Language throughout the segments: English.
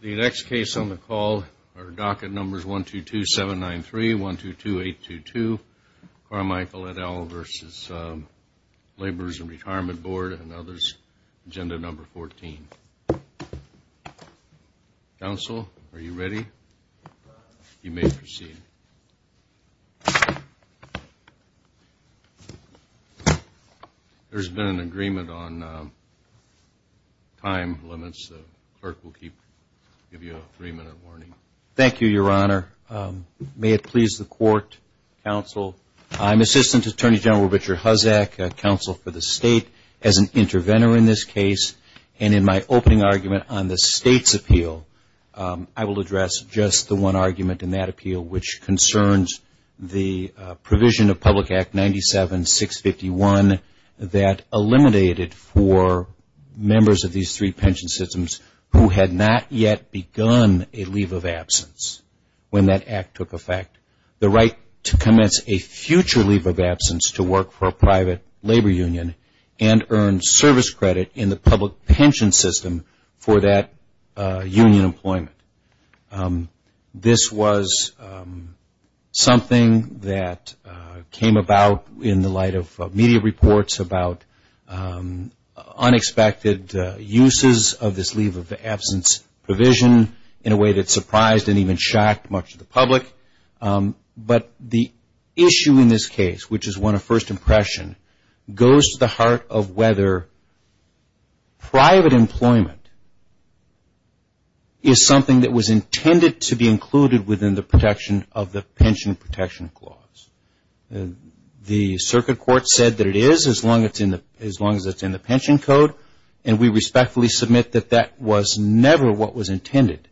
The next case on the call are docket numbers 122793, 122822, Carmichael, et al. v. Laborers' & Retirement Board, and others, agenda number 14. Counsel, are you ready? You may proceed. There has been an agreement on time limits. The clerk will give you a three-minute warning. Thank you, Your Honor. May it please the Court, Counsel, I'm Assistant Attorney General Richard Huzzack, Counsel for the State. As an interventor in this case, and in my opening argument on the State's appeal, I will address just the one argument in that appeal, which concerns the provision of Public Act 97-651 that eliminated for members of these three pension systems who had not yet begun a leave of absence when that act took effect, the right to commence a future leave of absence to work for a private labor union and earn service credit in the public pension system for that union employment. This was something that came about in the light of media reports about unexpected uses of this leave of absence provision in a way that surprised and even shocked much of the public. But the issue in this case, which is one of first impression, goes to the heart of whether private employment is something that was intended to be included within the protection of the Pension Protection Clause. The Circuit Court said that it is as long as it's in the Pension Code, and we respectfully submit that that was never what was intended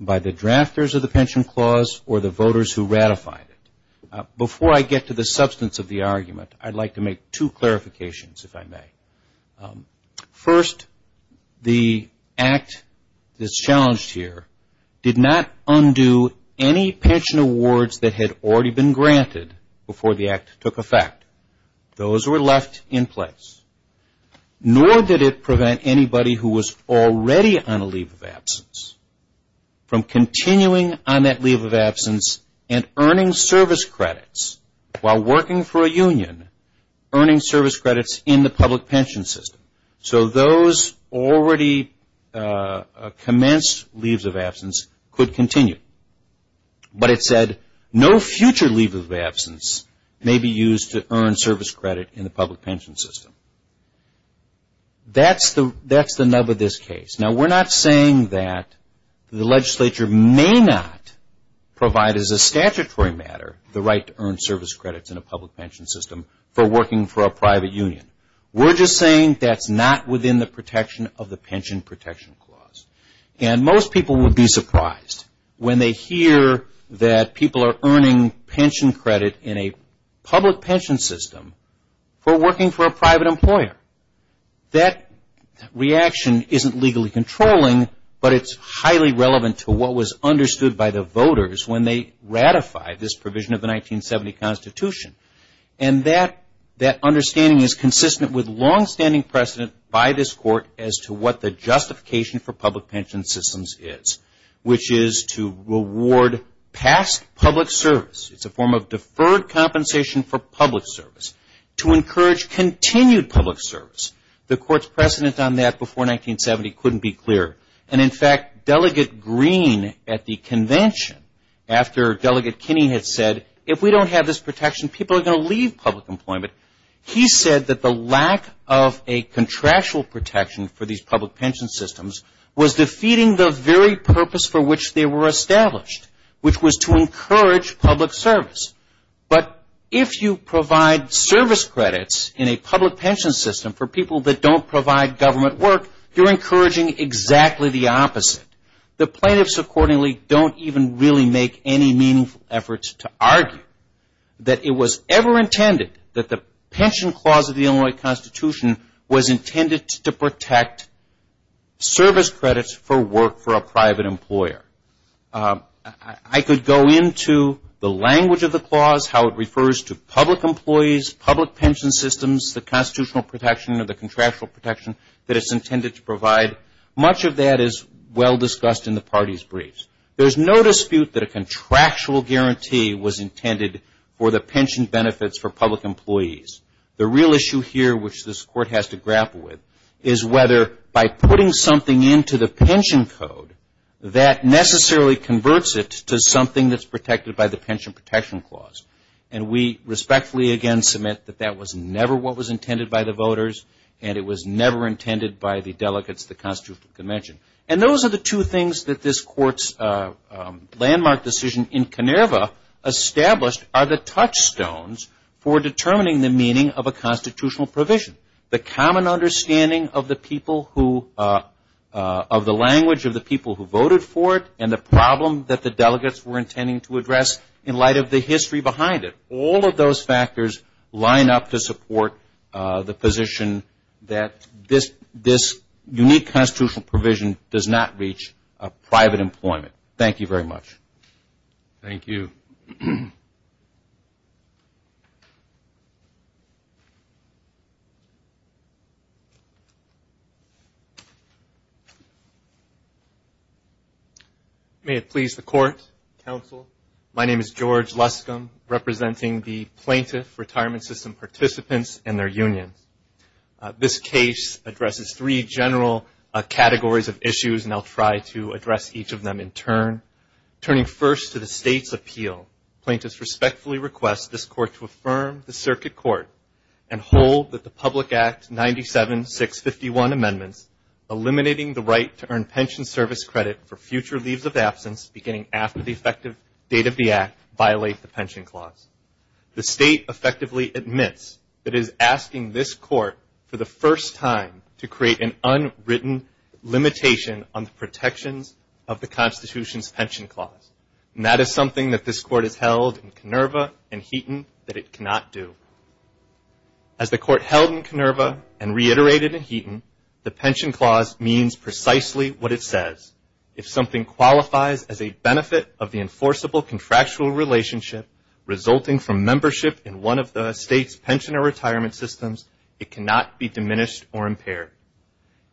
by the drafters of the Pension Clause or the voters who ratified it. Before I get to the substance of the argument, I'd like to make two clarifications, if I may. First, the act that's challenged here did not undo any pension awards that had already been granted before the act took effect. Those were left in place. Nor did it prevent anybody who was already on a leave of absence from continuing on that leave of absence and earning service credits while working for a union, earning service credits in the public pension system. So those already commenced leaves of absence could continue. But it said, no future leave of absence may be used to earn service credit in the public pension system. That's the nub of this case. Now, we're not saying that the legislature may not provide as a statutory matter the right to earn service credits in a public pension system for working for a private union. We're just saying that's not within the protection of the Pension Protection Clause. And most people would be surprised when they hear that people are earning pension credit in a public pension system for working for a private employer. That reaction isn't legally controlling, but it's highly relevant to what was understood by the voters when they ratified this provision of the 1970 Constitution. And that understanding is consistent with past public service. It's a form of deferred compensation for public service to encourage continued public service. The Court's precedent on that before 1970 couldn't be clearer. And, in fact, Delegate Green at the convention, after Delegate Kinney had said, if we don't have this protection, people are going to leave public employment, he said that the lack of a contractual protection for these public pension systems was defeating the very purpose for which they were established, which was to encourage public service. But if you provide service credits in a public pension system for people that don't provide government work, you're encouraging exactly the opposite. The plaintiffs, accordingly, don't even really make any meaningful efforts to argue that it was ever intended that the Pension Clause of the Illinois Constitution was intended to protect service credits for work for a private employer. I could go into the language of the clause, how it refers to public employees, public pension systems, the constitutional protection or the contractual protection that it's intended to public employees. The real issue here, which this Court has to grapple with, is whether by putting something into the pension code, that necessarily converts it to something that's protected by the Pension Protection Clause. And we respectfully, again, submit that that was never what was intended by the voters, and it was never intended by the delegates at the Constitutional Convention. And those are the two things that this Court's landmark decision in Koneva established are the touchstones for determining the meaning of a constitutional provision. The common understanding of the people who, of the language of the people who voted for it and the problem that the delegates were intending to address in light of the history behind it. All of those factors line up to support the position that this unique constitutional provision does not reach private employment. Thank you very much. Thank you. May it please the Court, Counsel, my name is George Luscombe, representing the plaintiff retirement system participants and their unions. This case addresses three general categories of issues, and I'll try to address each of them in turn. Turning first to the State's appeal, plaintiffs respectfully request this Court to affirm the Circuit Court and hold that the Public Act 97-651 amendments eliminating the right to earn pension service credit for future leaves of absence beginning after the effective date of the Act violate the Pension Clause. The State effectively admits that it is asking this Court for the first time to create an unwritten limitation on the protections of the Constitution's Pension Clause, and that is something that this Court has held in Koneva and Heaton that it cannot do. As the Court held in Koneva and reiterated in Heaton, the Pension Clause means precisely what it says. If something qualifies as a benefit of the enforceable contractual relationship resulting from membership in one of the State's pension or retirement systems, it cannot be diminished or impaired.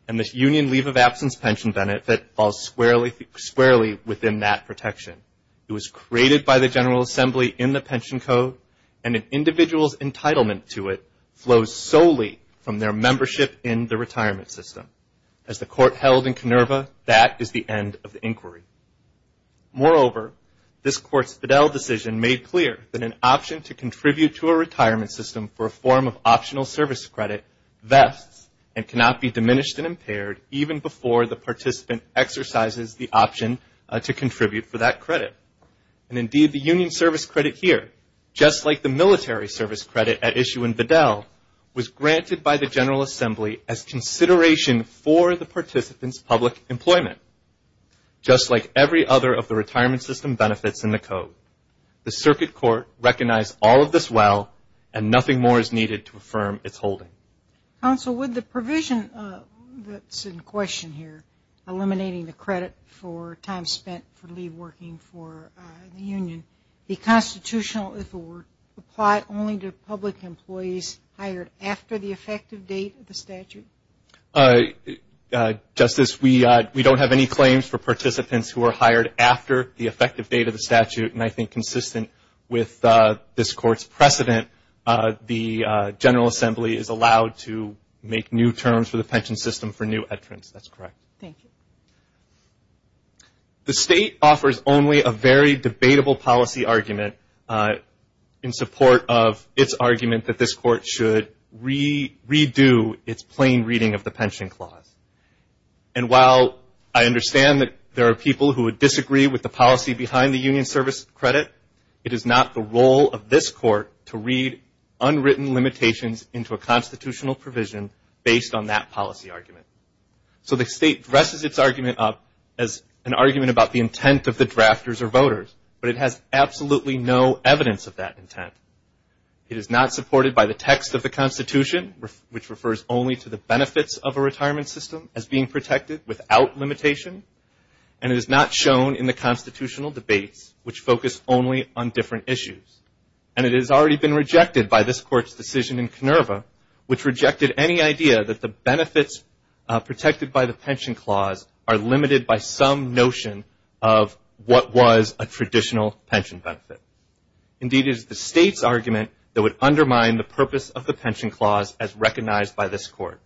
And this union leave of absence pension benefit falls squarely within that protection. It was created by the General Assembly in the Pension Code, and an individual's entitlement to it flows solely from their membership in the retirement system. As the Court held in Koneva, that is the end of the inquiry. Moreover, this Court's Fidel decision made clear that an option to contribute to a national service credit vests and cannot be diminished and impaired even before the participant exercises the option to contribute for that credit. And indeed, the union service credit here, just like the military service credit at issue in Fidel, was granted by the General Assembly as consideration for the participant's public employment. Just like every other of the retirement system benefits in the Code, the Circuit Court recognized all of this well, and nothing more is needed to affirm its holding. Counsel, with the provision that's in question here, eliminating the credit for time spent for leave working for the union, the constitutional authority apply only to public employees hired after the effective date of the statute? Justice, we don't have any claims for participants who are hired after the effective date of the statute, and I think consistent with this Court's precedent, the General Assembly is allowed to make new terms for the pension system for new entrants. That's correct. Thank you. The State offers only a very debatable policy argument in support of its argument that this Court should redo its plain reading of the pension clause. And while I understand that there are people who would disagree with the policy behind the union service credit, it is not the role of this Court to read unwritten limitations into a constitutional provision based on that policy argument. So the State dresses its argument up as an argument about the intent of the drafters or voters, but it has absolutely no evidence of that intent. It is not supported by the text of the Constitution, which refers only to the benefits of a retirement system as being protected without limitation, and it is not shown in the constitutional debates, which focus only on different issues. And it has already been pension clause are limited by some notion of what was a traditional pension benefit. Indeed, it is the State's argument that would undermine the purpose of the pension clause as recognized by this Court.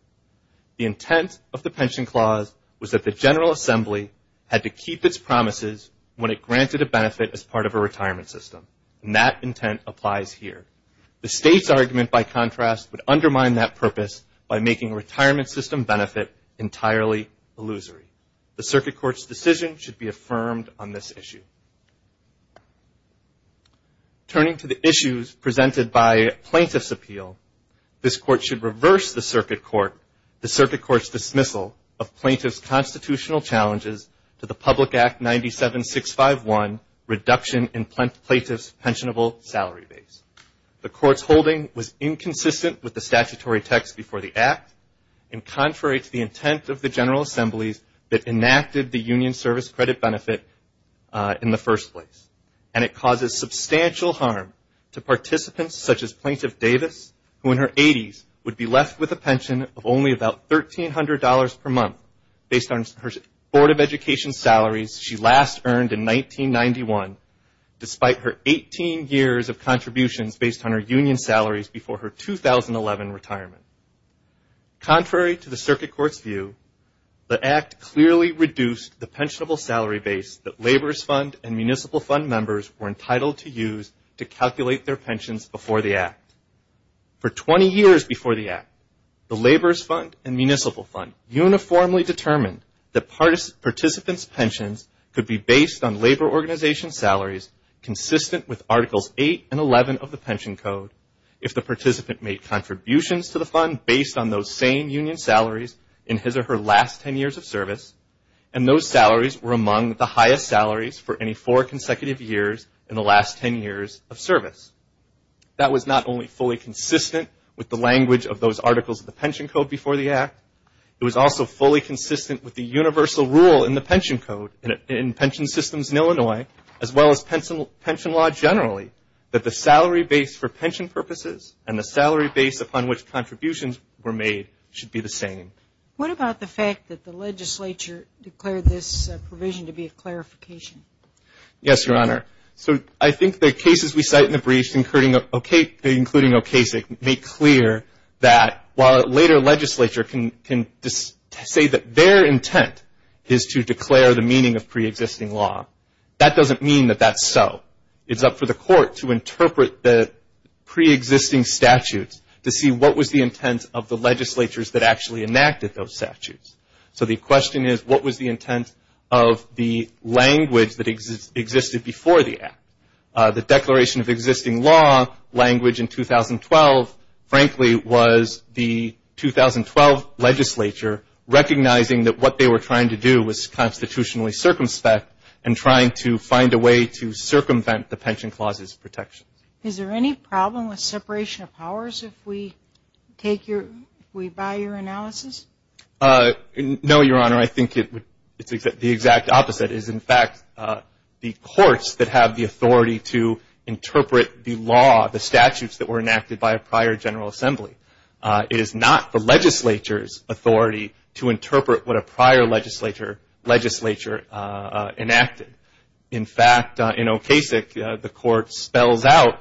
The intent of the pension clause was that the General Assembly had to keep its promises when it granted a benefit as part of a retirement system, and that intent applies here. The State's argument, by contrast, would make it entirely illusory. The Circuit Court's decision should be affirmed on this issue. Turning to the issues presented by plaintiff's appeal, this Court should reverse the Circuit Court's dismissal of plaintiff's constitutional challenges to the Public Act 97651, Reduction in Plaintiff's Pensionable Salary Base. The Court's holding was General Assembly's that enacted the union service credit benefit in the first place, and it causes substantial harm to participants such as Plaintiff Davis, who in her 80s would be left with a pension of only about $1,300 per month based on her Board of Education salaries she last earned in 1991, despite her 18 years of contributions based on her union salaries before her 2011 retirement. Contrary to the plaintiff's appeal, the Act clearly reduced the pensionable salary base that laborers' fund and municipal fund members were entitled to use to calculate their pensions before the Act. For 20 years before the Act, the laborers' fund and municipal fund uniformly determined that participants' pensions could be based on labor organization salaries consistent with Articles 8 and 11 of the pension code before the Act. It was also fully consistent with the universal rule in the pension code in pension systems in Illinois, as well as pension law generally, that the salary base for pension purposes and the salary base upon which contributions were made should be the same. What about the union service credit benefits? The union service credit benefits should be the same as the union service credit benefits, should be the same as the union service credit benefits. What about the fact that the legislature declared this provision to be a clarification? Yes, Your Honor. So I think the cases we cite in the briefs, including Okasik, make clear that while later legislature can say that their intent is to declare the meaning of preexisting law, that doesn't mean that that's so. It's up for the court to interpret the statute. So the question is, what was the intent of the language that existed before the Act? The declaration of existing law language in 2012, frankly, was the 2012 legislature recognizing that what they were trying to do was constitutionally circumspect and trying to find a way to circumvent the pension clauses protections. Is there any problem with separation of powers if we take your, if we buy your analysis? No, Your Honor. I think it's the exact opposite. It is, in fact, the courts that have the authority to interpret the law, the statutes that were enacted by a prior General Assembly. It is not the legislature's authority to interpret what a prior legislature enacted. In fact, in Okasik, the court spells out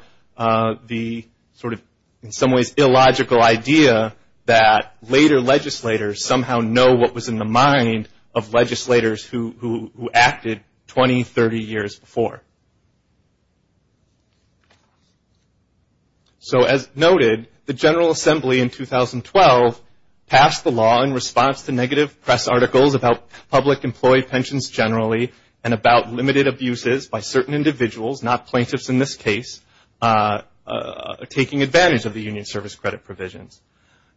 the sort of, in some ways, illogical idea that later legislators somehow noticed that there was a preexisting law and they didn't know what was in the mind of legislators who acted 20, 30 years before. So as noted, the General Assembly in 2012 passed the law in response to negative press articles about public employee pensions generally and about limited abuses by certain individuals, not plaintiffs in this case, taking advantage of the union service credit provisions.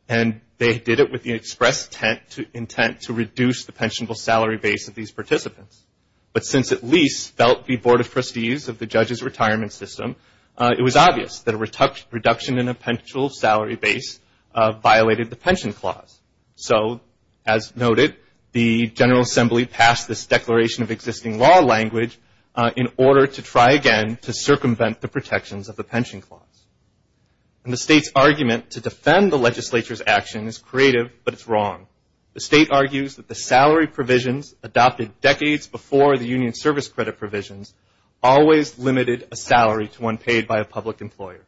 And they did it with the express intent to reduce the pensionable salary base of these participants. But since at least felt the Board of Trustees of the judge's retirement system, it was obvious that a reduction in a pensionable salary base violated the pension clause. So as noted, the General Assembly passed this declaration of existing law language in order to try again to circumvent the protections of the pension clause. And the state's argument to this, the state argues that the salary provisions adopted decades before the union service credit provisions always limited a salary to one paid by a public employer.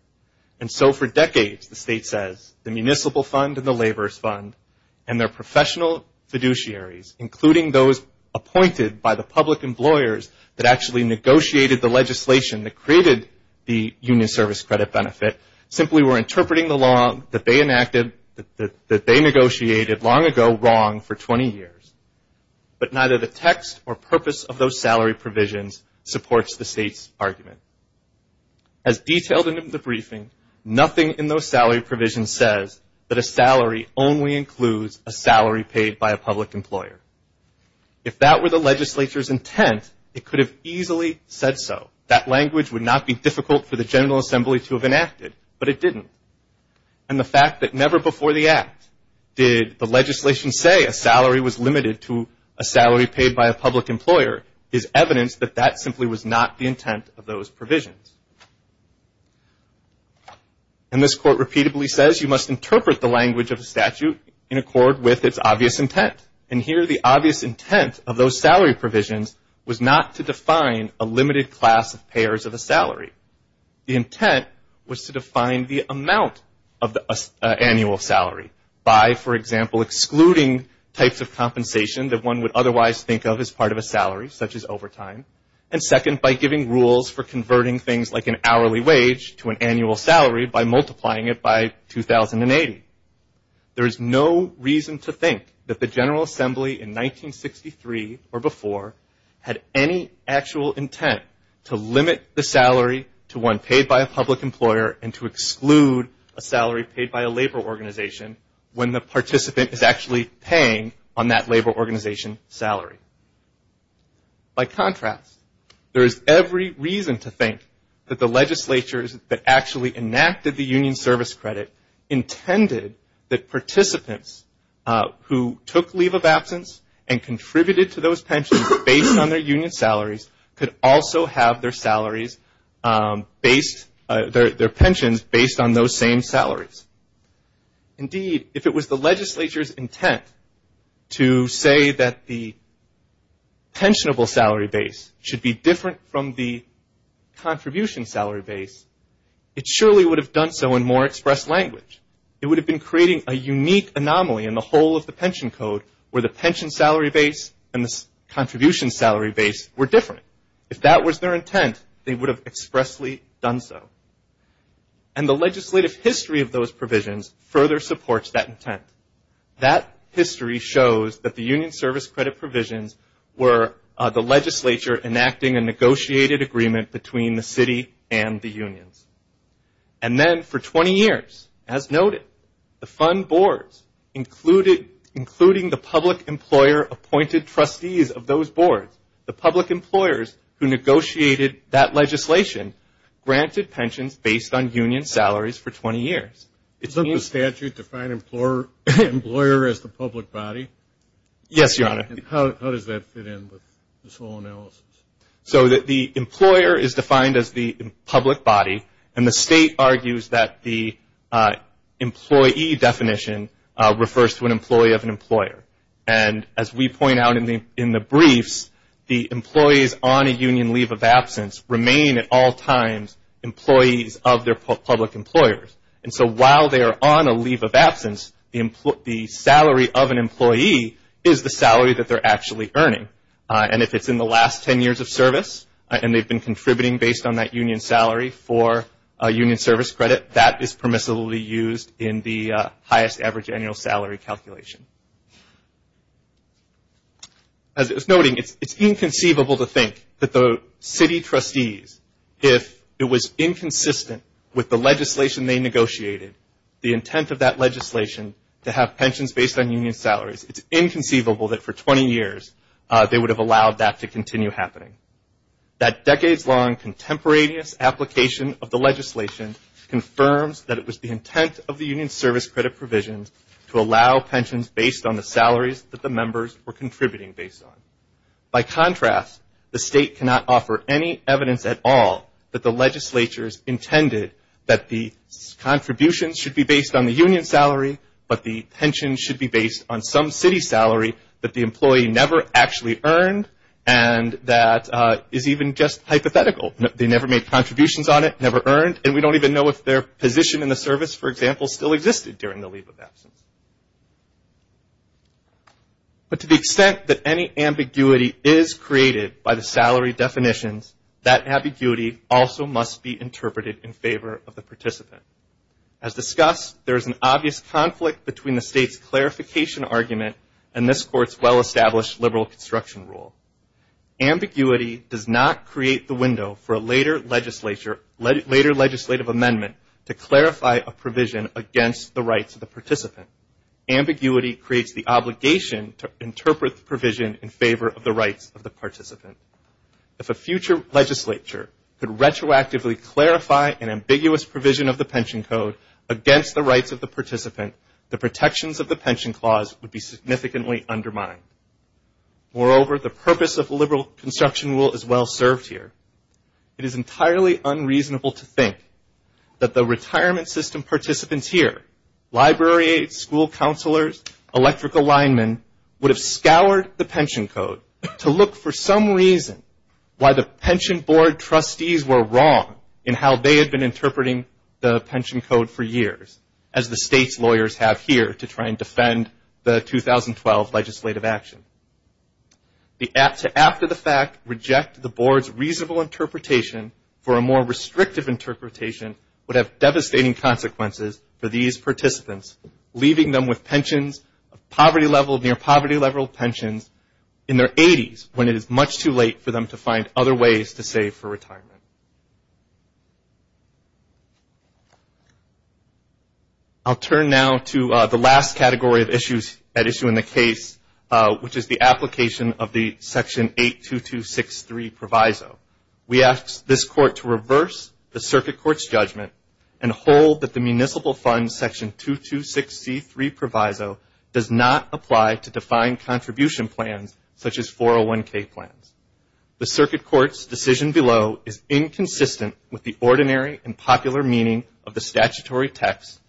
And so for decades, the state says, the municipal fund and the laborers fund and their professional fiduciaries, including those appointed by the public employers that actually negotiated the legislation that created the union service credit benefit, simply were interpreting the law that they enacted, that they negotiated long ago wrong for 20 years. But neither the text or purpose of those salary provisions supports the state's argument. As detailed in the briefing, nothing in those salary provisions says that a salary only includes a salary paid by a public employer. If that were the legislature's intent, it could have easily said so. That would have been a good thing to have enacted, but it didn't. And the fact that never before the act did the legislation say a salary was limited to a salary paid by a public employer is evidence that that simply was not the intent of those provisions. And this court repeatedly says you must interpret the language of a statute in accord with its obvious intent. And here the obvious intent of those provisions was to define the amount of the annual salary by, for example, excluding types of compensation that one would otherwise think of as part of a salary, such as overtime. And second, by giving rules for converting things like an hourly wage to an annual salary by multiplying it by 2080. There is no reason to think that the General Assembly in 1963 or before had any actual intent to limit the salary to one paid by a public employer and to exclude a salary paid by a labor organization when the participant is actually paying on that labor organization salary. By contrast, there is every reason to think that the legislatures that actually enacted the union service credit intended that participants who took leave of absence and contributed to those pensions based on their union salaries could also have their pensions based on those same salaries. Indeed, if it was the legislature's intent to say that the pensionable salary base should be different from the contribution salary base, it surely would have done so in more expressed language. It would have been creating a unique anomaly in the whole of the pension code where the pension salary base and the contribution salary base were different. If that was their intent, they would have obviously done so. And the legislative history of those provisions further supports that intent. That history shows that the union service credit provisions were the legislature enacting a negotiated agreement between the city and the unions. And then for 20 years, as noted, the fund boards, including the public employer appointed trustees of those boards, the public employer appointed trustees of those boards, granted pensions based on union salaries for 20 years. Is that the statute to find an employer as the public body? Yes, Your Honor. How does that fit in with this whole analysis? So the employer is defined as the public body, and the state argues that the employee definition refers to an employee of an employer. And as we point out in the briefs, the employees on a union leave of absence remain at all times on a union leave of absence. They remain at all times employees of their public employers. And so while they are on a leave of absence, the salary of an employee is the salary that they're actually earning. And if it's in the last 10 years of service, and they've been contributing based on that union salary for a union service credit, that is permissibly used in the highest average annual salary calculation. As it was noting, it's inconceivable to think that the city trustees, if they're on a union leave of absence, are actually contributing based on union salaries. It was inconsistent with the legislation they negotiated, the intent of that legislation to have pensions based on union salaries. It's inconceivable that for 20 years, they would have allowed that to continue happening. That decades-long contemporaneous application of the legislation confirms that it was the intent of the union service credit provisions to allow pensions based on the salaries that the members were contributing based on. By contrast, the state cannot offer any evidence at all that the legislation would allow that. The legislature's intended that the contributions should be based on the union salary, but the pensions should be based on some city salary that the employee never actually earned, and that is even just hypothetical. They never made contributions on it, never earned, and we don't even know if their position in the service, for example, still existed during the leave of absence. But to the extent that any ambiguity is created by the salary definitions, that ambiguity also must be addressed. It must be interpreted in favor of the participant. As discussed, there is an obvious conflict between the state's clarification argument and this Court's well-established liberal construction rule. Ambiguity does not create the window for a later legislative amendment to clarify a provision against the rights of the participant. Ambiguity creates the obligation to interpret the provision in favor of the rights of the participant. If the state were to explicitly clarify an ambiguous provision of the pension code against the rights of the participant, the protections of the pension clause would be significantly undermined. Moreover, the purpose of the liberal construction rule is well served here. It is entirely unreasonable to think that the retirement system participants here, library aides, school counselors, electrical linemen, would have scoured the pension code to look for some reason why the pension board trustees were wrong. And how they had been interpreting the pension code for years, as the state's lawyers have here to try and defend the 2012 legislative action. To after the fact reject the board's reasonable interpretation for a more restrictive interpretation would have devastating consequences for these participants, leaving them with pensions of poverty level, near poverty level pensions in their 80s, when it is much too late for them to find other ways to save for retirement. I'll turn now to the last category of issues at issue in the case, which is the application of the Section 82263 proviso. We ask this court to reverse the circuit court's judgment and hold that the municipal fund Section 226C3 proviso does not apply to defined contribution plans, such as 401k plans. The circuit court's decision below is inconsistent with the ordinary and popular meaning of the statutory text,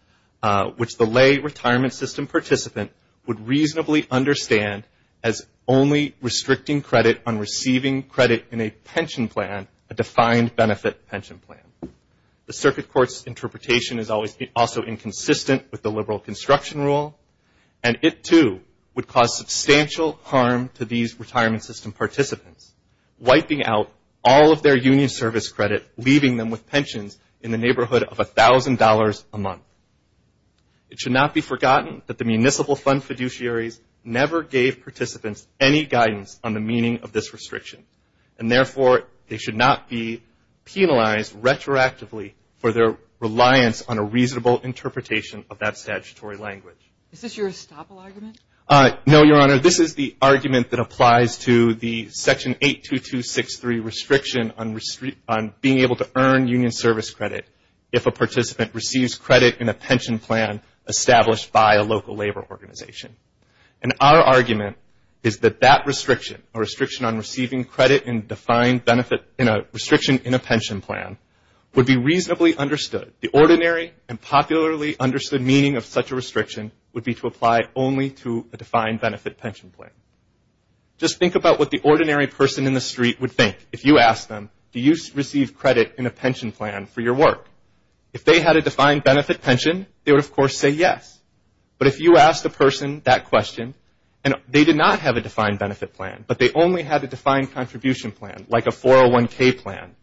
which the lay retirement system participant would reasonably understand as only restricting credit on receiving credit in a pension plan, a defined benefit pension plan. The circuit court's interpretation is also inconsistent with the liberal construction rule, and it too would cause substantial harm to these retirement system participants, wiping out all of their union service credit, leaving them with pensions in the neighborhood of $1,000 a month. It should not be forgotten that the municipal fund fiduciaries never gave participants any guidance on the meaning of this restriction, and therefore they should not be penalized retroactively for their reliance on a reasonable interpretation of that statutory language. Your Honor, this is the argument that applies to the Section 82263 restriction on being able to earn union service credit if a participant receives credit in a pension plan established by a local labor organization. And our argument is that that restriction, a restriction on receiving credit in a defined benefit, in a restriction in a pension plan, would be reasonably understood. The ordinary and popularly understood meaning of such a restriction would be to apply only to a defined benefit pension plan. Just think about what the ordinary person in the street would think if you asked them, do you receive credit in a pension plan for your work? If they had a defined benefit pension, they would, of course, say yes. But if you asked the person that question, and they did not have a defined benefit plan, but they only had a defined contribution plan, like a 401K plan,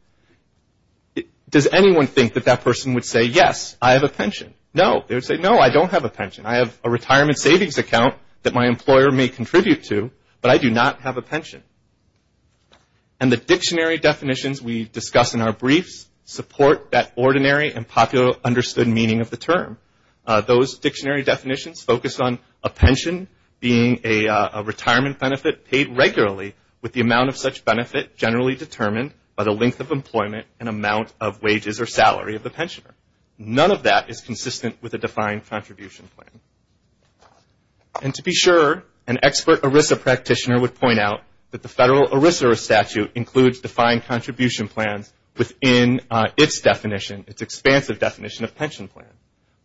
does anyone think that that person would say, yes, I have a pension? No. They would say, no, I don't have a pension. I have a retirement savings account that my employer may contribute to, but I do not have a pension. And the dictionary definitions we discuss in our briefs support that ordinary and popularly understood meaning of the term. Those dictionary definitions focus on a pension being a retirement benefit paid regularly with the amount of such benefit generally determined by the length of employment and amount of wages or salary of the pensioner. None of that is consistent with a defined contribution plan. And to be sure, an expert ERISA practitioner would point out that the federal ERISA statute includes defined contribution plans within its definition, its expansive definition of pension plan.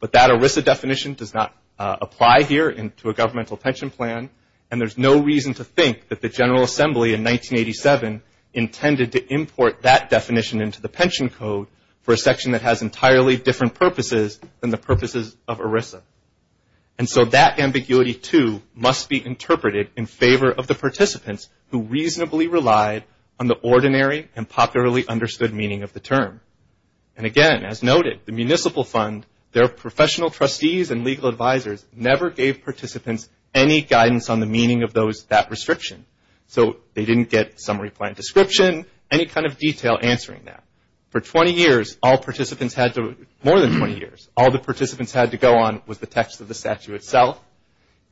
But that ERISA definition does not apply here to a governmental pension plan, and there's no reason to think that the General Assembly in 1987 intended to import that definition into the pension code for a section that has entirely different purposes than the purposes of ERISA. And so that ambiguity too must be interpreted in favor of the participants who reasonably relied on the ordinary and popularly understood meaning of the term. And again, as noted, the municipal fund, their professional trustees and legal advisors never gave participants any guidance on the meaning of that restriction. So they didn't get summary plan description, any kind of detail answering that. For 20 years, all participants had to, more than 20 years, all the participants had to go on was the text of the statute.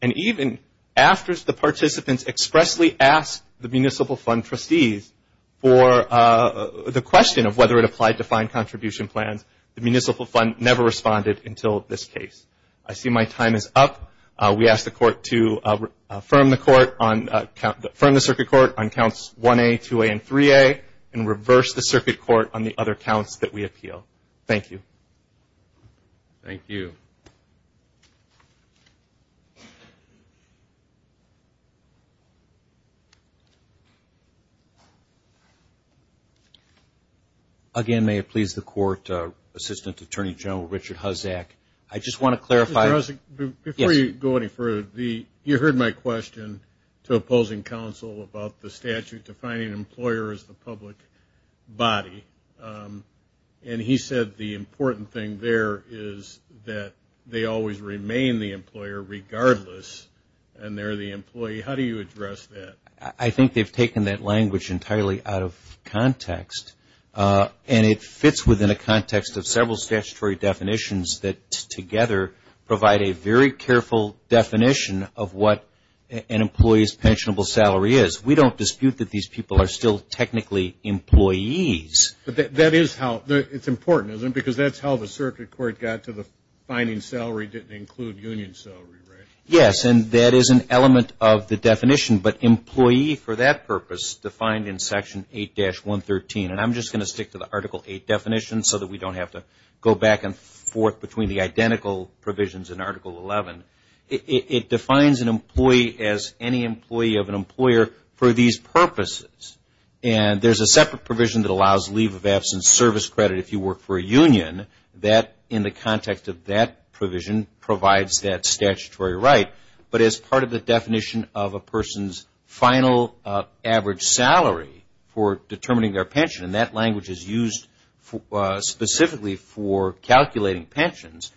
And even after the participants expressly asked the municipal fund trustees for the question of whether it applied to defined contribution plans, the municipal fund never responded until this case. I see my time is up. We ask the court to affirm the circuit court on counts 1A, 2A, and 3A, and reverse the circuit court on the other counts that we appeal. Thank you. Again, may it please the court, Assistant Attorney General Richard Huzzack. I just want to clarify. Mr. Huzzack, before you go any further, you heard my question to opposing counsel about the statute defining an employer as the public body. And he said the important thing there is that they always remain the employer regardless of the salary. And that's what the statute defines. And they're the employee. How do you address that? I think they've taken that language entirely out of context. And it fits within a context of several statutory definitions that together provide a very careful definition of what an employee's pensionable salary is. We don't dispute that these people are still technically employees. But that is how, it's important, isn't it? Because that's how the circuit court got to the finding salary didn't include union salary, right? Yes. And that is an element of the definition. But employee for that purpose defined in Section 8-113. And I'm just going to stick to the Article 8 definition so that we don't have to go back and forth between the identical provisions in Article 11. It defines an employee as any employee of an employer for these purposes. And there's a separate provision that allows leave of absence service credit if you work for a union that in the context of that provision provides that statutory right. But as part of the definition of a person's final average salary for determining their pension, and that language is used specifically for calculating pensions,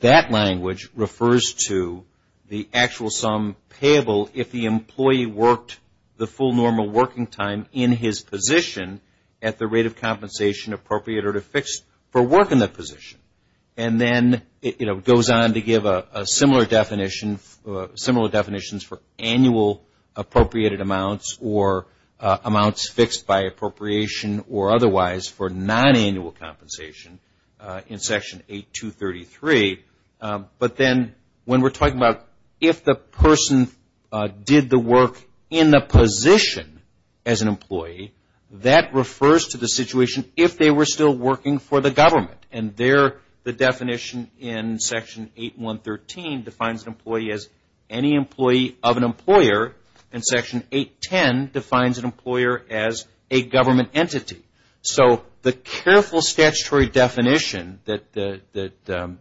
that language refers to the actual sum payable if the employee worked the full normal working time in his position at the rate of compensation appropriate or to fix for working the normal working time. There's a similar definition, similar definitions for annual appropriated amounts or amounts fixed by appropriation or otherwise for non-annual compensation in Section 8-233. But then when we're talking about if the person did the work in the position as an employee, that refers to the situation if they were still working for the government. And there the definition of an employee in Section 8-233 defines an employee as any employee of an employer and Section 8-10 defines an employer as a government entity. So the careful statutory definition that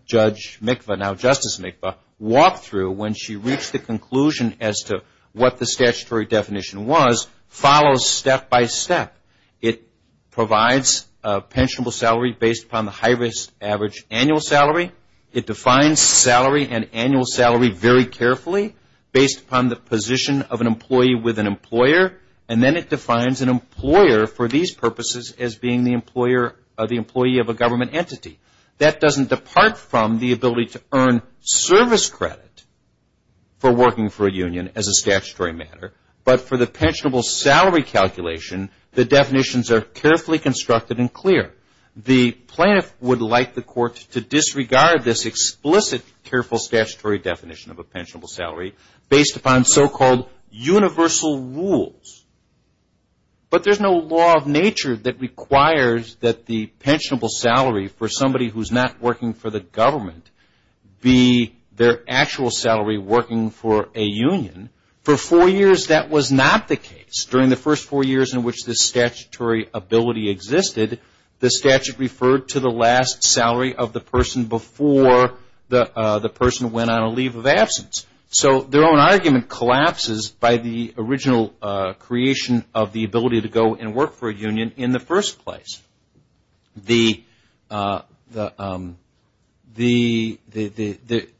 Judge Mikva, now Justice Mikva, walked through when she reached the conclusion as to what the statutory definition was follows step by step. It provides a pensionable salary based upon the high risk average annual salary. It defines salary and annual salary very carefully based upon the position of an employee with an employer. And then it defines an employer for these purposes as being the employer or the employee of a government entity. That doesn't depart from the ability to earn service credit for working for a union as a statutory matter. But for the pensionable salary calculation, the definitions are carefully constructed and clear. The plaintiffs' would like the court to disregard this explicit careful statutory definition of a pensionable salary based upon so-called universal rules. But there's no law of nature that requires that the pensionable salary for somebody who's not working for the government be their actual salary working for a union. For four years, that was not the case. During the first four years in which the statutory ability existed, the statute referred to the last salary of the person before the person went on a leave of absence. So their own argument collapses by the original creation of the ability to go and work for a union in the first place.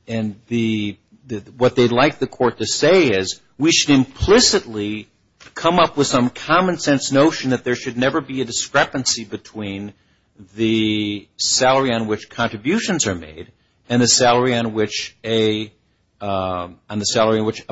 And what they'd like the court to say is, we should implicitly come up with some common-sense definition of a pensionable salary. And that's this notion that there should never be a discrepancy between the salary on which contributions are made and the salary on which a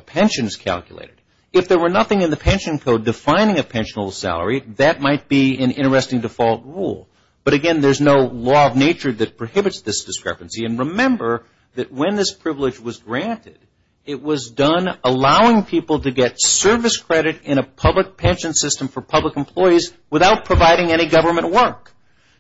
pension is calculated. If there were nothing in the pension code defining a pensionable salary, that might be an interesting default rule. But again, there's no law of nature that prohibits this discrepancy. And remember that when this privilege was granted, it was done allowing people to get service credit in a public workplace without providing any government work.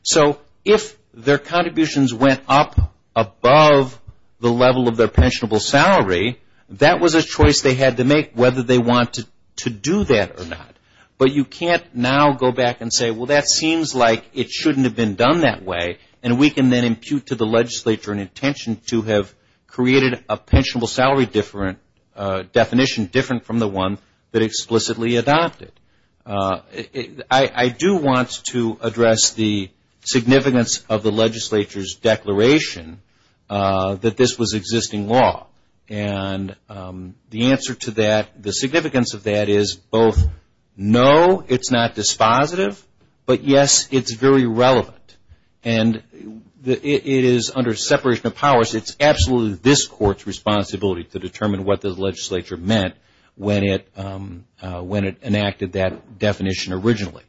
So if their contributions went up above the level of their pensionable salary, that was a choice they had to make whether they wanted to do that or not. But you can't now go back and say, well, that seems like it shouldn't have been done that way. And we can then impute to the legislature an intention to have created a pensionable salary definition different from the one that explicitly adopted. And that's not the case. That's not the case. I do want to address the significance of the legislature's declaration that this was existing law. And the answer to that, the significance of that is both no, it's not dispositive, but yes, it's very relevant. And it is under separation of powers. It's absolutely this court's responsibility to determine what the legislature meant when it enacted that definition originally.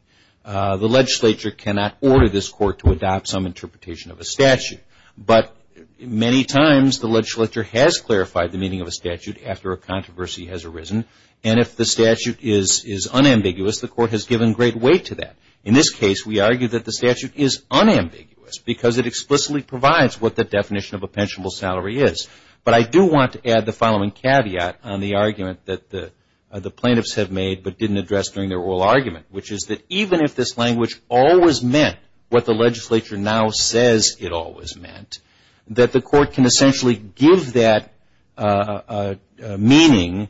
The legislature cannot order this court to adopt some interpretation of a statute. But many times the legislature has clarified the meaning of a statute after a controversy has arisen. And if the statute is unambiguous, the court has given great weight to that. In this case, we argue that the statute is unambiguous because it explicitly provides what the definition of a pensionable salary is. But I do want to add the following caveat on the argument that the plaintiffs have argued, which is that even if this language always meant what the legislature now says it always meant, that the court can essentially give that meaning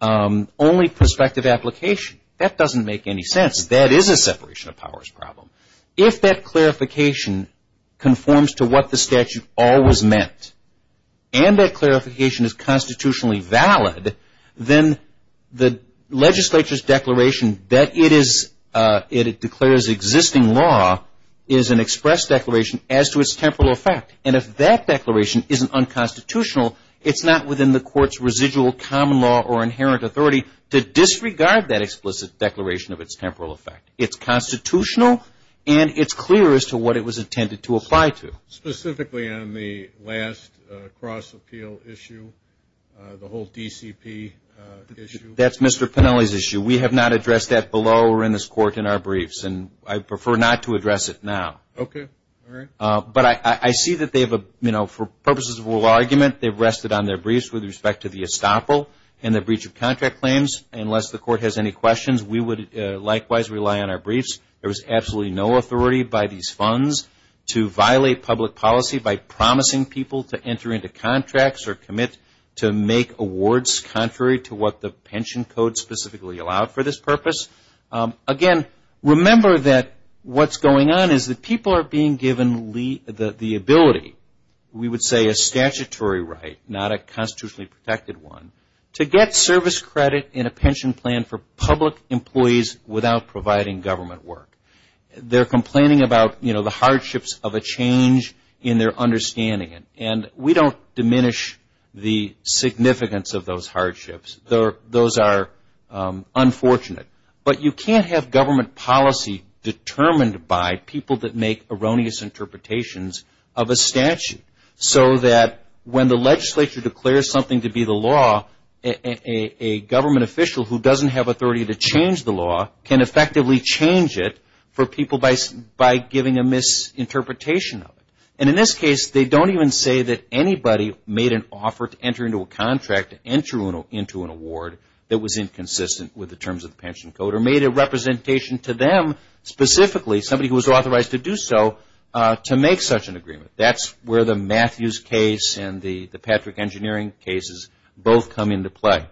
only prospective application. That doesn't make any sense. That is a separation of powers problem. If that clarification conforms to what the statute always meant and that clarification is constitutionally valid, then the legislature's declaration that it declares existing law is an express declaration as to its temporal effect. And if that declaration isn't unconstitutional, it's not within the court's residual common law or inherent authority to disregard that explicit declaration of its temporal effect. It's constitutional and it's clear as to what it was intended to apply to. Specifically on the last cross-appeal issue, the whole DCP issue? That's Mr. Pennelly's issue. We have not addressed that below or in this court in our briefs. And I prefer not to address it now. Okay. All right. But I see that they've, for purposes of oral argument, they've rested on their briefs with respect to the estoppel and the breach of contract claims. Unless the court has any questions, we would likewise rely on our briefs. There is absolutely no authority by these funds to violate public policy by promising people to enter into contracts or commit to make awards contrary to what the pensionable obligation code specifically allowed for this purpose. Again, remember that what's going on is that people are being given the ability, we would say a statutory right, not a constitutionally protected one, to get service credit in a pension plan for public employees without providing government work. They're complaining about the hardships of a change in their understanding. And we don't diminish the significance of those hardships. Those are unfortunate. But you can't have government policy determined by people that make erroneous interpretations of a statute so that when the legislature declares something to be the law, a government official who doesn't have authority to change the law can effectively change it for people by giving a misinterpretation of it. And in this case, they don't even say that anybody made an offer to enter into a contract, enter into an award that was inconsistent with the terms of the pension code, or made a representation to them specifically, somebody who was authorized to do so, to make such an agreement. That's where the Matthews case and the Patrick Engineering cases both come into play.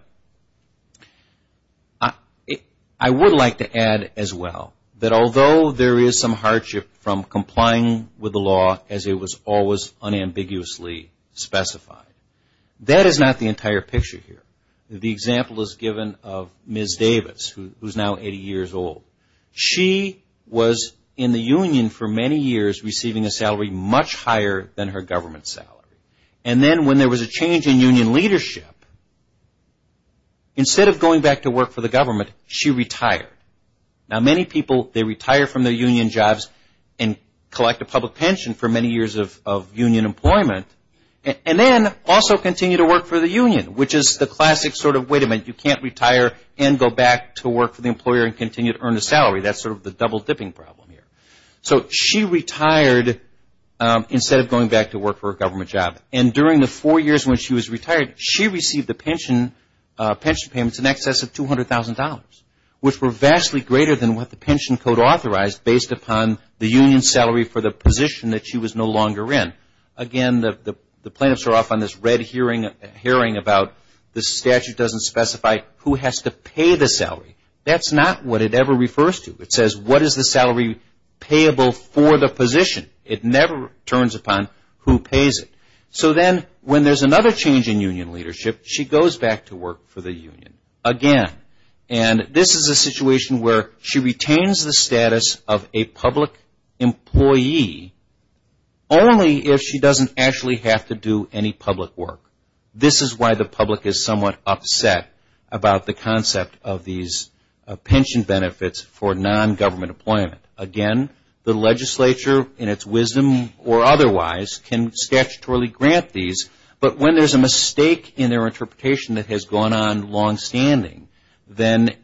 I would like to add as well that although there is some hardship from complying with the law as it was always unambiguously specified, that is not the entire picture here. The example is given of Ms. Davis, who is now 80 years old. She was in the union for many years receiving a salary much higher than her government salary. And then when there was a change in union leadership, instead of going back to work for the government, she retired. Now, many people, they retire from their union jobs and collect a public pension for many years of union employment. And then also continue to work for the union, which is the classic sort of, wait a minute, you can't retire and go back to work for the employer and continue to earn a salary. That's sort of the double dipping problem here. So she retired instead of going back to work for a government job. And during the four years when she was retired, she received the pension payments in excess of $200,000, which were vastly greater than what the pension code authorized based upon the union salary for the position that she was no longer in. Again, the plaintiffs are off on this red herring about the statute doesn't specify who has to pay the salary. That's not what it ever refers to. It says what is the salary payable for the position? It never turns upon who pays it. So then when there's another change in union leadership, she goes back to work for the union again. And this is a situation where she retains her union job. And she retains the status of a public employee only if she doesn't actually have to do any public work. This is why the public is somewhat upset about the concept of these pension benefits for non-government employment. Again, the legislature in its wisdom or otherwise can statutorily grant these. But when there's a mistake in their interpretation that has gone on long standing, and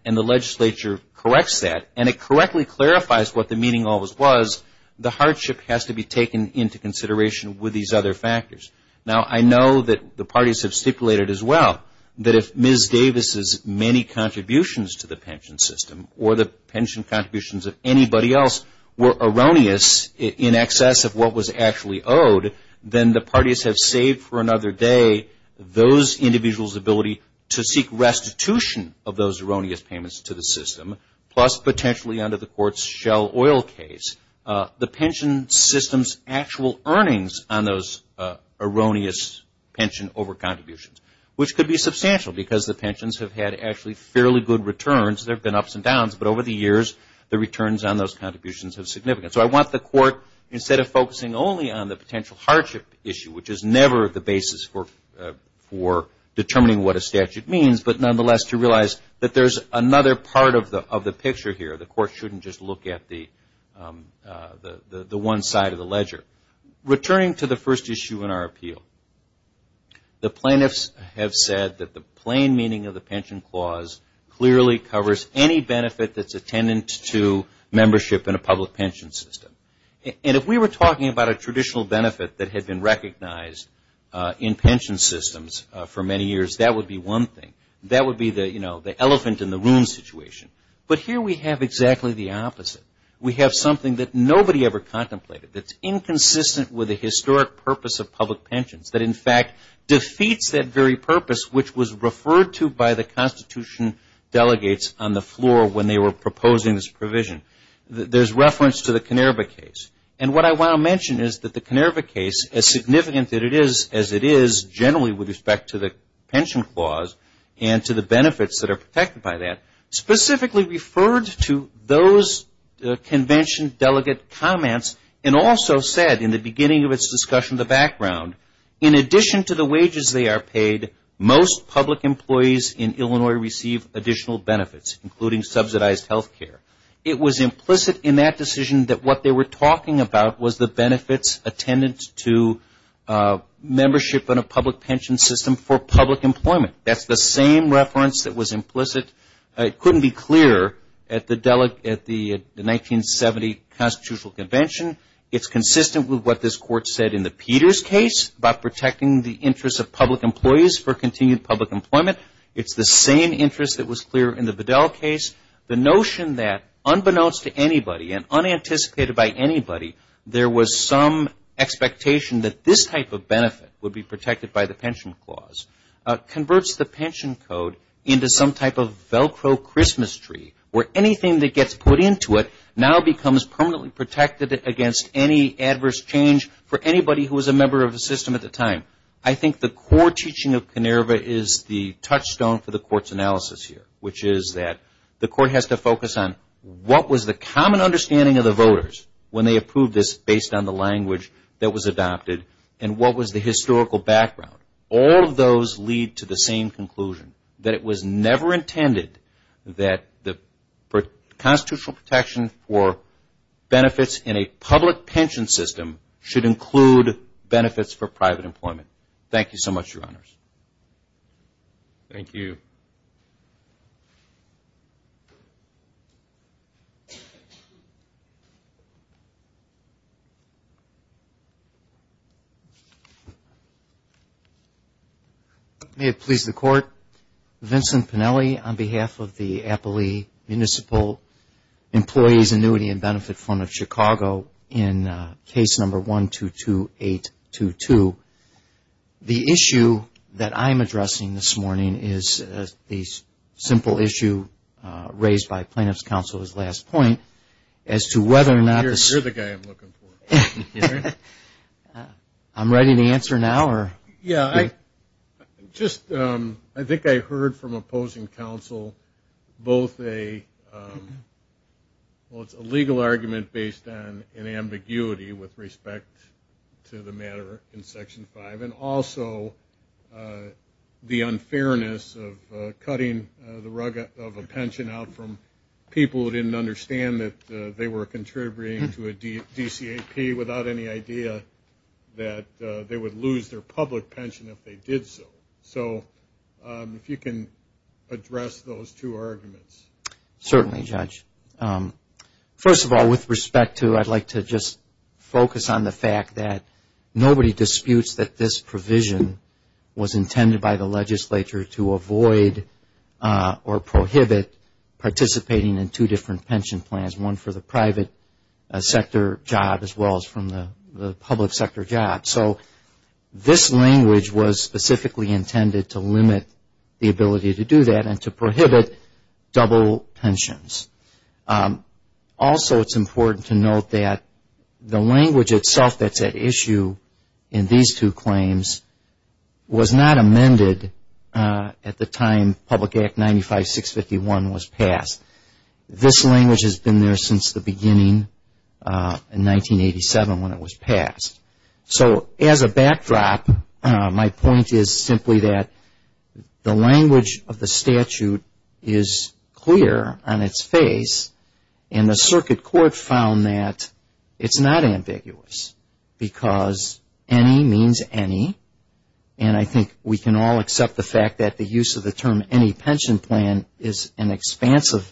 the legislature correctly clarifies what the meaning of this was, the hardship has to be taken into consideration with these other factors. Now, I know that the parties have stipulated as well that if Ms. Davis' many contributions to the pension system or the pension contributions of anybody else were erroneous in excess of what was actually owed, then the parties have saved for another day those individuals' ability to seek restitution of those erroneous payments to the system, plus potentially unpaid contributions. So I want the court, instead of focusing only on the potential hardship issue, which is never the basis for determining what a statute means, but nonetheless to realize that there's another part of the picture here. The court should be looking at the one side of the ledger. Returning to the first issue in our appeal, the plaintiffs have said that the plain meaning of the pension clause clearly covers any benefit that's attendant to membership in a public pension system. And if we were talking about a traditional benefit that had been recognized in pension systems for many years, that would be one thing. That would be the elephant in the room situation. But here we have exactly the opposite. We have something that nobody ever contemplated, that's inconsistent with the historic purpose of public pensions, that in fact defeats that very purpose which was referred to by the Constitution delegates on the floor when they were proposing this provision. There's reference to the Kennerba case. And what I want to mention is that the Kennerba case, as significant as it is generally with respect to the pension clause and to the benefits that are protected by that, specifically referred to those convention delegate comments and also said in the beginning of its discussion in the background, in addition to the wages they are paid, most public employees in Illinois receive additional benefits, including subsidized health care. It was implicit in that decision that what they were talking about was the benefits attendant to membership in a public pension system for public employment. That's the same reference that was implicit in the Kennerba case. It couldn't be clearer at the 1970 Constitutional Convention. It's consistent with what this Court said in the Peters case about protecting the interests of public employees for continued public employment. It's the same interest that was clear in the Vidal case. The notion that unbeknownst to anybody and unanticipated by anybody, there was some expectation that this type of benefit would be protected by the pension clause converts the pension code into some type of a benefit that would be protected by the pension clause. It's like a Velcro Christmas tree where anything that gets put into it now becomes permanently protected against any adverse change for anybody who was a member of the system at the time. I think the core teaching of Kennerba is the touchstone for the Court's analysis here, which is that the Court has to focus on what was the common understanding of the voters when they approved this based on the language that was adopted and what was the historical background. All of those lead to the same conclusion, that it was never intended to be a benefit to the public. It was never intended that the constitutional protection for benefits in a public pension system should include benefits for private employment. Thank you so much, Your Honors. Thank you. May it please the Court, Vincent Pennelly on behalf of the Applee Municipal Employees Annuity and Benefit Fund of Chicago in Case No. 122822. The issue that I'm addressing this morning is an issue that has been raised by the plaintiff's counsel at his last point as to whether or not... You're the guy I'm looking for. I'm ready to answer now? I think I heard from opposing counsel both a legal argument based on an ambiguity with respect to the matter in Section 5 and also the unfairness of cutting the rug of a pension out from people who didn't understand that they were contributing to a DCAP without any idea that they would lose their public pension if they did so. So if you can address those two arguments. Certainly, Judge. First of all, with respect to... I'd like to just focus on the fact that nobody disputes that this is a provision was intended by the legislature to avoid or prohibit participating in two different pension plans. One for the private sector job as well as from the public sector job. So this language was specifically intended to limit the ability to do that and to prohibit double pensions. Also, it's important to note that the language itself that's at issue in these two claims was not amended at the time Public Act 95-651 was passed. This language has been there since the beginning in 1987 when it was passed. So as a backdrop, my point is simply that the language of the statute is clear on its face and the circuit court found that it's not ambiguous because any means of protection against any kind of pension. Any means any. And I think we can all accept the fact that the use of the term any pension plan is an expansive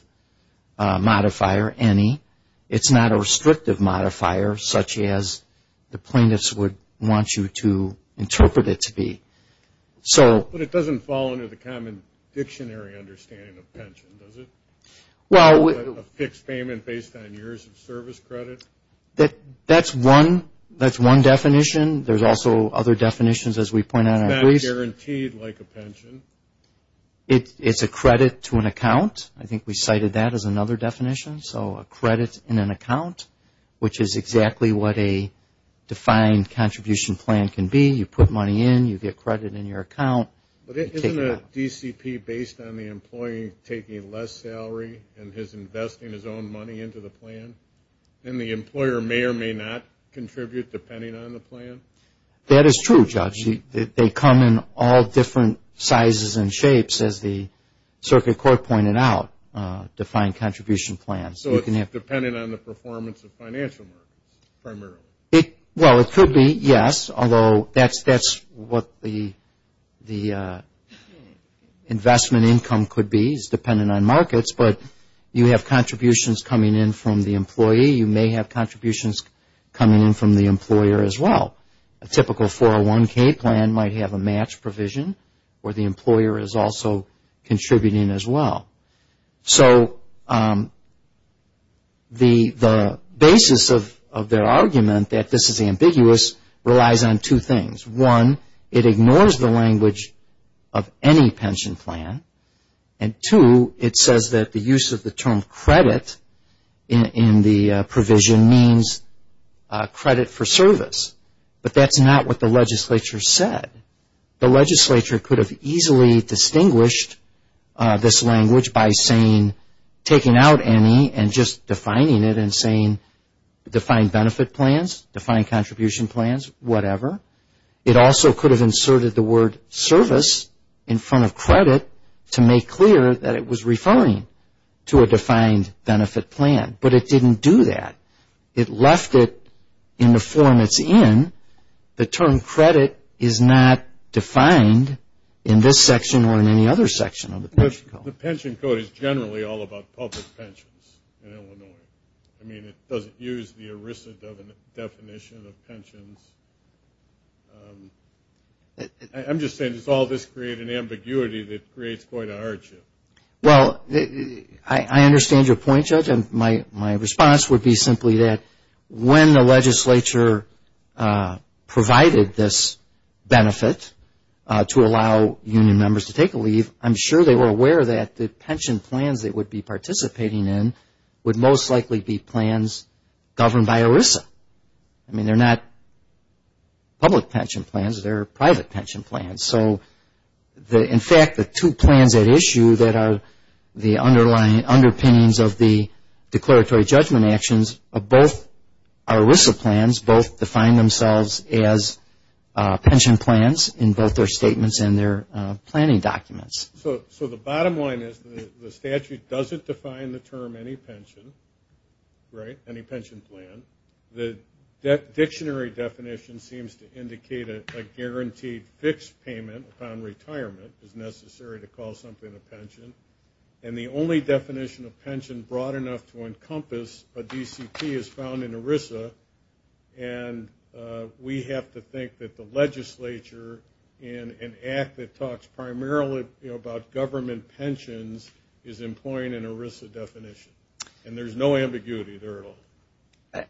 modifier, any. It's not a restrictive modifier such as the plaintiffs would want you to interpret it to be. But it doesn't fall under the common dictionary understanding of pension, does it? A fixed payment based on years of service credit? That's one definition. There's also other definitions as we point out. It's not guaranteed like a pension. It's a credit to an account. I think we cited that as another definition. So a credit in an account which is exactly what a defined contribution plan can be. You put money in, you get credit in your account. But isn't a DCP based on the employee taking less salary and is investing his own money into the plan? And the employer may or may not contribute depending on the plan? That is true, Judge. They come in all different sizes and shapes as the circuit court pointed out, defined contribution plans. So it's dependent on the performance of financial markets primarily? Well, it could be, yes. Although that's what the definition says, you have contributions coming in from the employee. You may have contributions coming in from the employer as well. A typical 401k plan might have a match provision where the employer is also contributing as well. So the basis of their argument that this is ambiguous relies on two things. One, it ignores the language of any pension plan. And two, it says that the use of the term credit in the provision means credit for service. But that's not what the legislature said. The legislature could have easily distinguished this language by saying taking out any and just defining it and saying defined benefit plans, defined contribution plans, whatever. It also could have inserted the word service in front of credit to make clear that it was referring to a defined benefit plan. But it didn't do that. It left it in the form it's in. The term credit is not defined in this section or in any other section of the pension code. The pension code is generally all about public pensions in Illinois. I mean, it doesn't use the erissant definition of pensions. I'm just saying does all this create an ambiguity in the legislature? Well, I understand your point, Judge. And my response would be simply that when the legislature provided this benefit to allow union members to take a leave, I'm sure they were aware that the pension plans they would be participating in would most likely be plans governed by ERISA. I mean, they're not public pension plans. They're private pension plans. So in fact, the two plans at issue that are the underpinnings of the declaratory judgment actions are both ERISA plans, both define themselves as pension plans in both their statements and their planning documents. So the bottom line is the statute doesn't define the term any pension, right, any pension plan. The dictionary definition seems to indicate a guaranteed fixed payment upon retirement is necessary to call something a pension. And the statutory definition is a pension. And the only definition of pension broad enough to encompass a DCP is found in ERISA. And we have to think that the legislature, in an act that talks primarily about government pensions, is employing an ERISA definition. And there's no ambiguity there at all.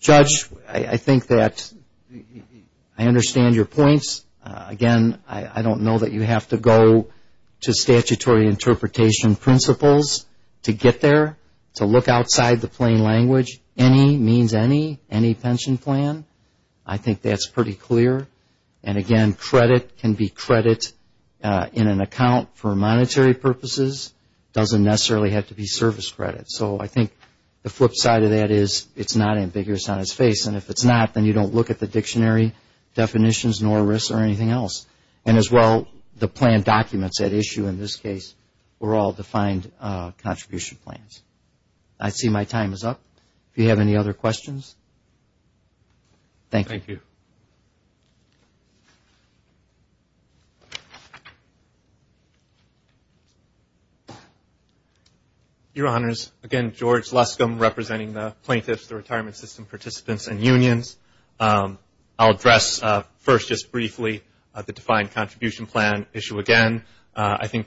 Judge, I think that I understand your points. Again, I don't know that you have to go to the statutory definition of pension. I think that the statutory interpretation principles to get there, to look outside the plain language, any means any, any pension plan, I think that's pretty clear. And again, credit can be credit in an account for monetary purposes. It doesn't necessarily have to be service credit. So I think the flip side of that is it's not ambiguous on its face. And if it's not, then you don't look at the dictionary definitions nor ERISA or anything else. And as well, the plan documents at issue in this case. So I think that's pretty clear. And again, credit can be credit in an account for monetary purposes. And as well, the plan documents at issue in this case. We're all defined contribution plans. I see my time is up. Do you have any other questions? Thank you. Your Honors, again, George Lescombe representing the plaintiffs, the retirement system participants and unions. I'll address first just briefly the defined contribution plan issue again. I think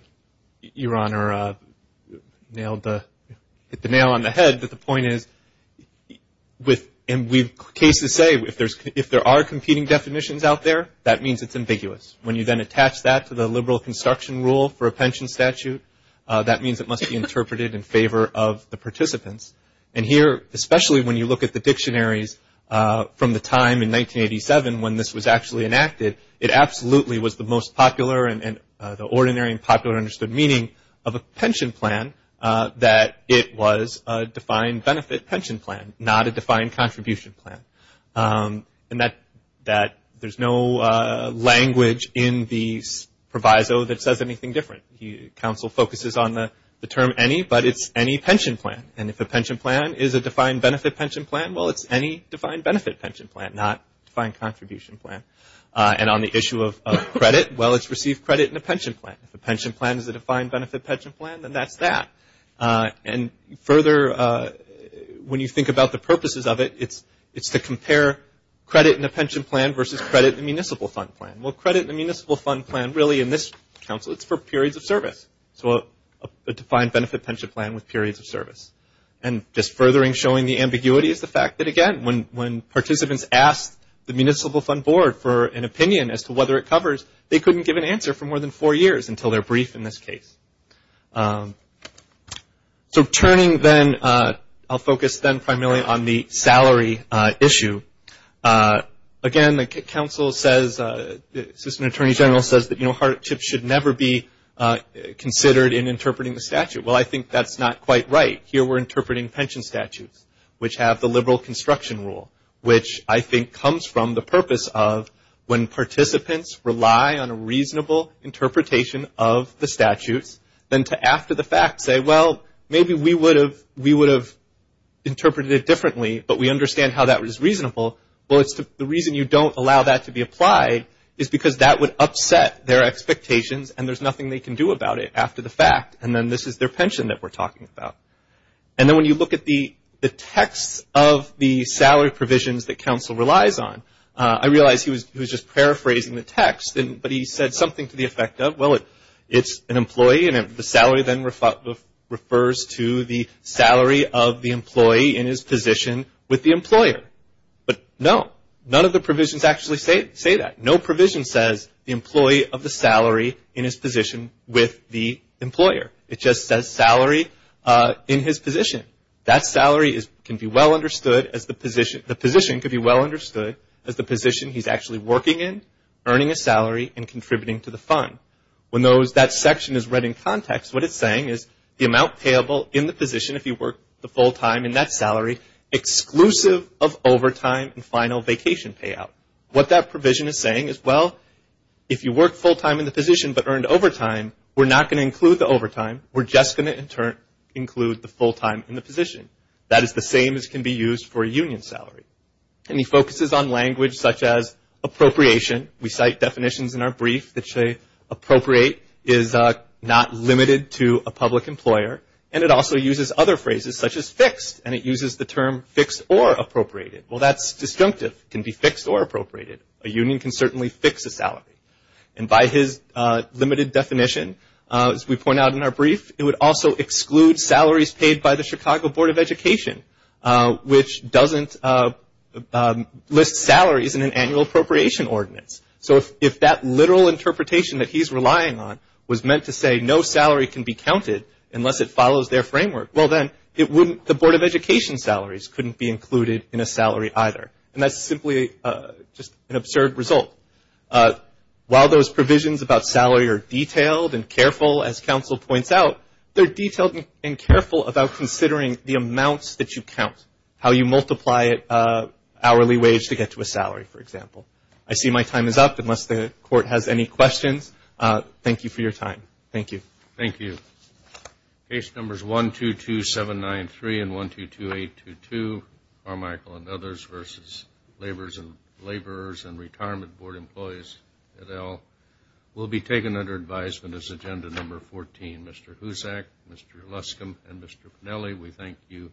Your Honor hit the nail on the head, but the point is, and we've cases say, if there are competing definitions out there, that means it's ambiguous. When you then attach that to the liberal construction rule for a pension statute, that means it must be interpreted in favor of the participants. And here, especially when you look at the dictionaries from the time in 1987 when this was actually enacted, it absolutely was the most popular and the ordinary and popular understood meaning of a pension plan that it was a defined benefit pension plan, not a defined contribution plan. And that there's no language in the proviso that says anything different. The counsel focuses on the term any, but it's any pension plan. And if a pension plan is a defined benefit pension plan, well, it's any defined benefit pension plan, not defined contribution plan. And on the issue of credit, well, it's received credit in a pension plan. If a pension plan is a defined benefit pension plan, then that's that. And further, when you think about the purposes of it, it's to compare credit in a pension plan versus credit in a municipal fund plan. Well, credit in a municipal fund plan really in this counsel, it's for periods of service. So a defined benefit pension plan with periods of service. And just furthering showing the ambiguity is the fact that, again, when participants asked the municipal fund board for an opinion as to whether it covers, they couldn't give an answer for more than four years until they're briefed in this case. So turning then, I'll focus then primarily on the salary issue. Again, the counsel says, the assistant attorney general says that hardship should never be considered in interpreting the statute. Well, I think that's not quite right. Here we're interpreting pension statutes, which have the liberal construction rule, which I think comes from the purpose of when participants rely on a reasonable interpretation of the statutes, then to after the fact say, well, maybe we would have interpreted it differently, but we understand how that was reasonable. Well, the reason you don't allow that to be applied is because that would upset their expectations and there's nothing they can do about it after the fact. And then this is their pension that we're talking about. And then when you look at the text of the salary provisions that counsel relies on, I realize he was just paraphrasing the text, but he said something to the effect of, well, it's an employee and the salary then refers to the salary of the employee in his position with the employer. But no, none of the provisions actually say that. No provision says the employee of the salary in his position with the employer. It just says salary in his position. That salary can be well understood as the position, the position could be well understood as the position he's actually working in, earning a salary, and contributing to the fund. When that section is read in context, what it's saying is the amount payable in the position, if you work the full time in that salary, exclusive of overtime and final vacation payout. What that provision is saying is, well, if you work full time in the position but earned overtime, we're not going to include the overtime. We're just going to include the full time in the position. That is the same as can be used for a union salary. And he focuses on language such as appropriation. We cite definitions in our brief that say appropriate is not limited to a public employer. And it also uses other phrases such as fixed. And it uses the term fixed or appropriated. Well, that's disjunctive. It can be fixed or appropriated. It's not a fixed salary. And by his limited definition, as we point out in our brief, it would also exclude salaries paid by the Chicago Board of Education, which doesn't list salaries in an annual appropriation ordinance. So if that literal interpretation that he's relying on was meant to say no salary can be counted unless it follows their framework, well then, the Board of Education salaries couldn't be included in a salary either. And that's simply just an absurd result. While those provisions about salary are detailed and careful, as counsel points out, they're detailed and careful about considering the amounts that you count, how you multiply hourly wage to get to a salary, for example. I see my time is up unless the court has any questions. Thank you for your time. Thank you. Thank you. Case numbers 122793 and 122822, Carmichael and others versus laborers and retirement board employees. We'll be taken under advisement as agenda number 14. Mr. Hussack, Mr. Luscombe, and Mr. Pinelli, we thank you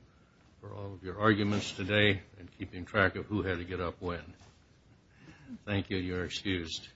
for all of your arguments today and keeping track of who had to get up when. Thank you. You're excused.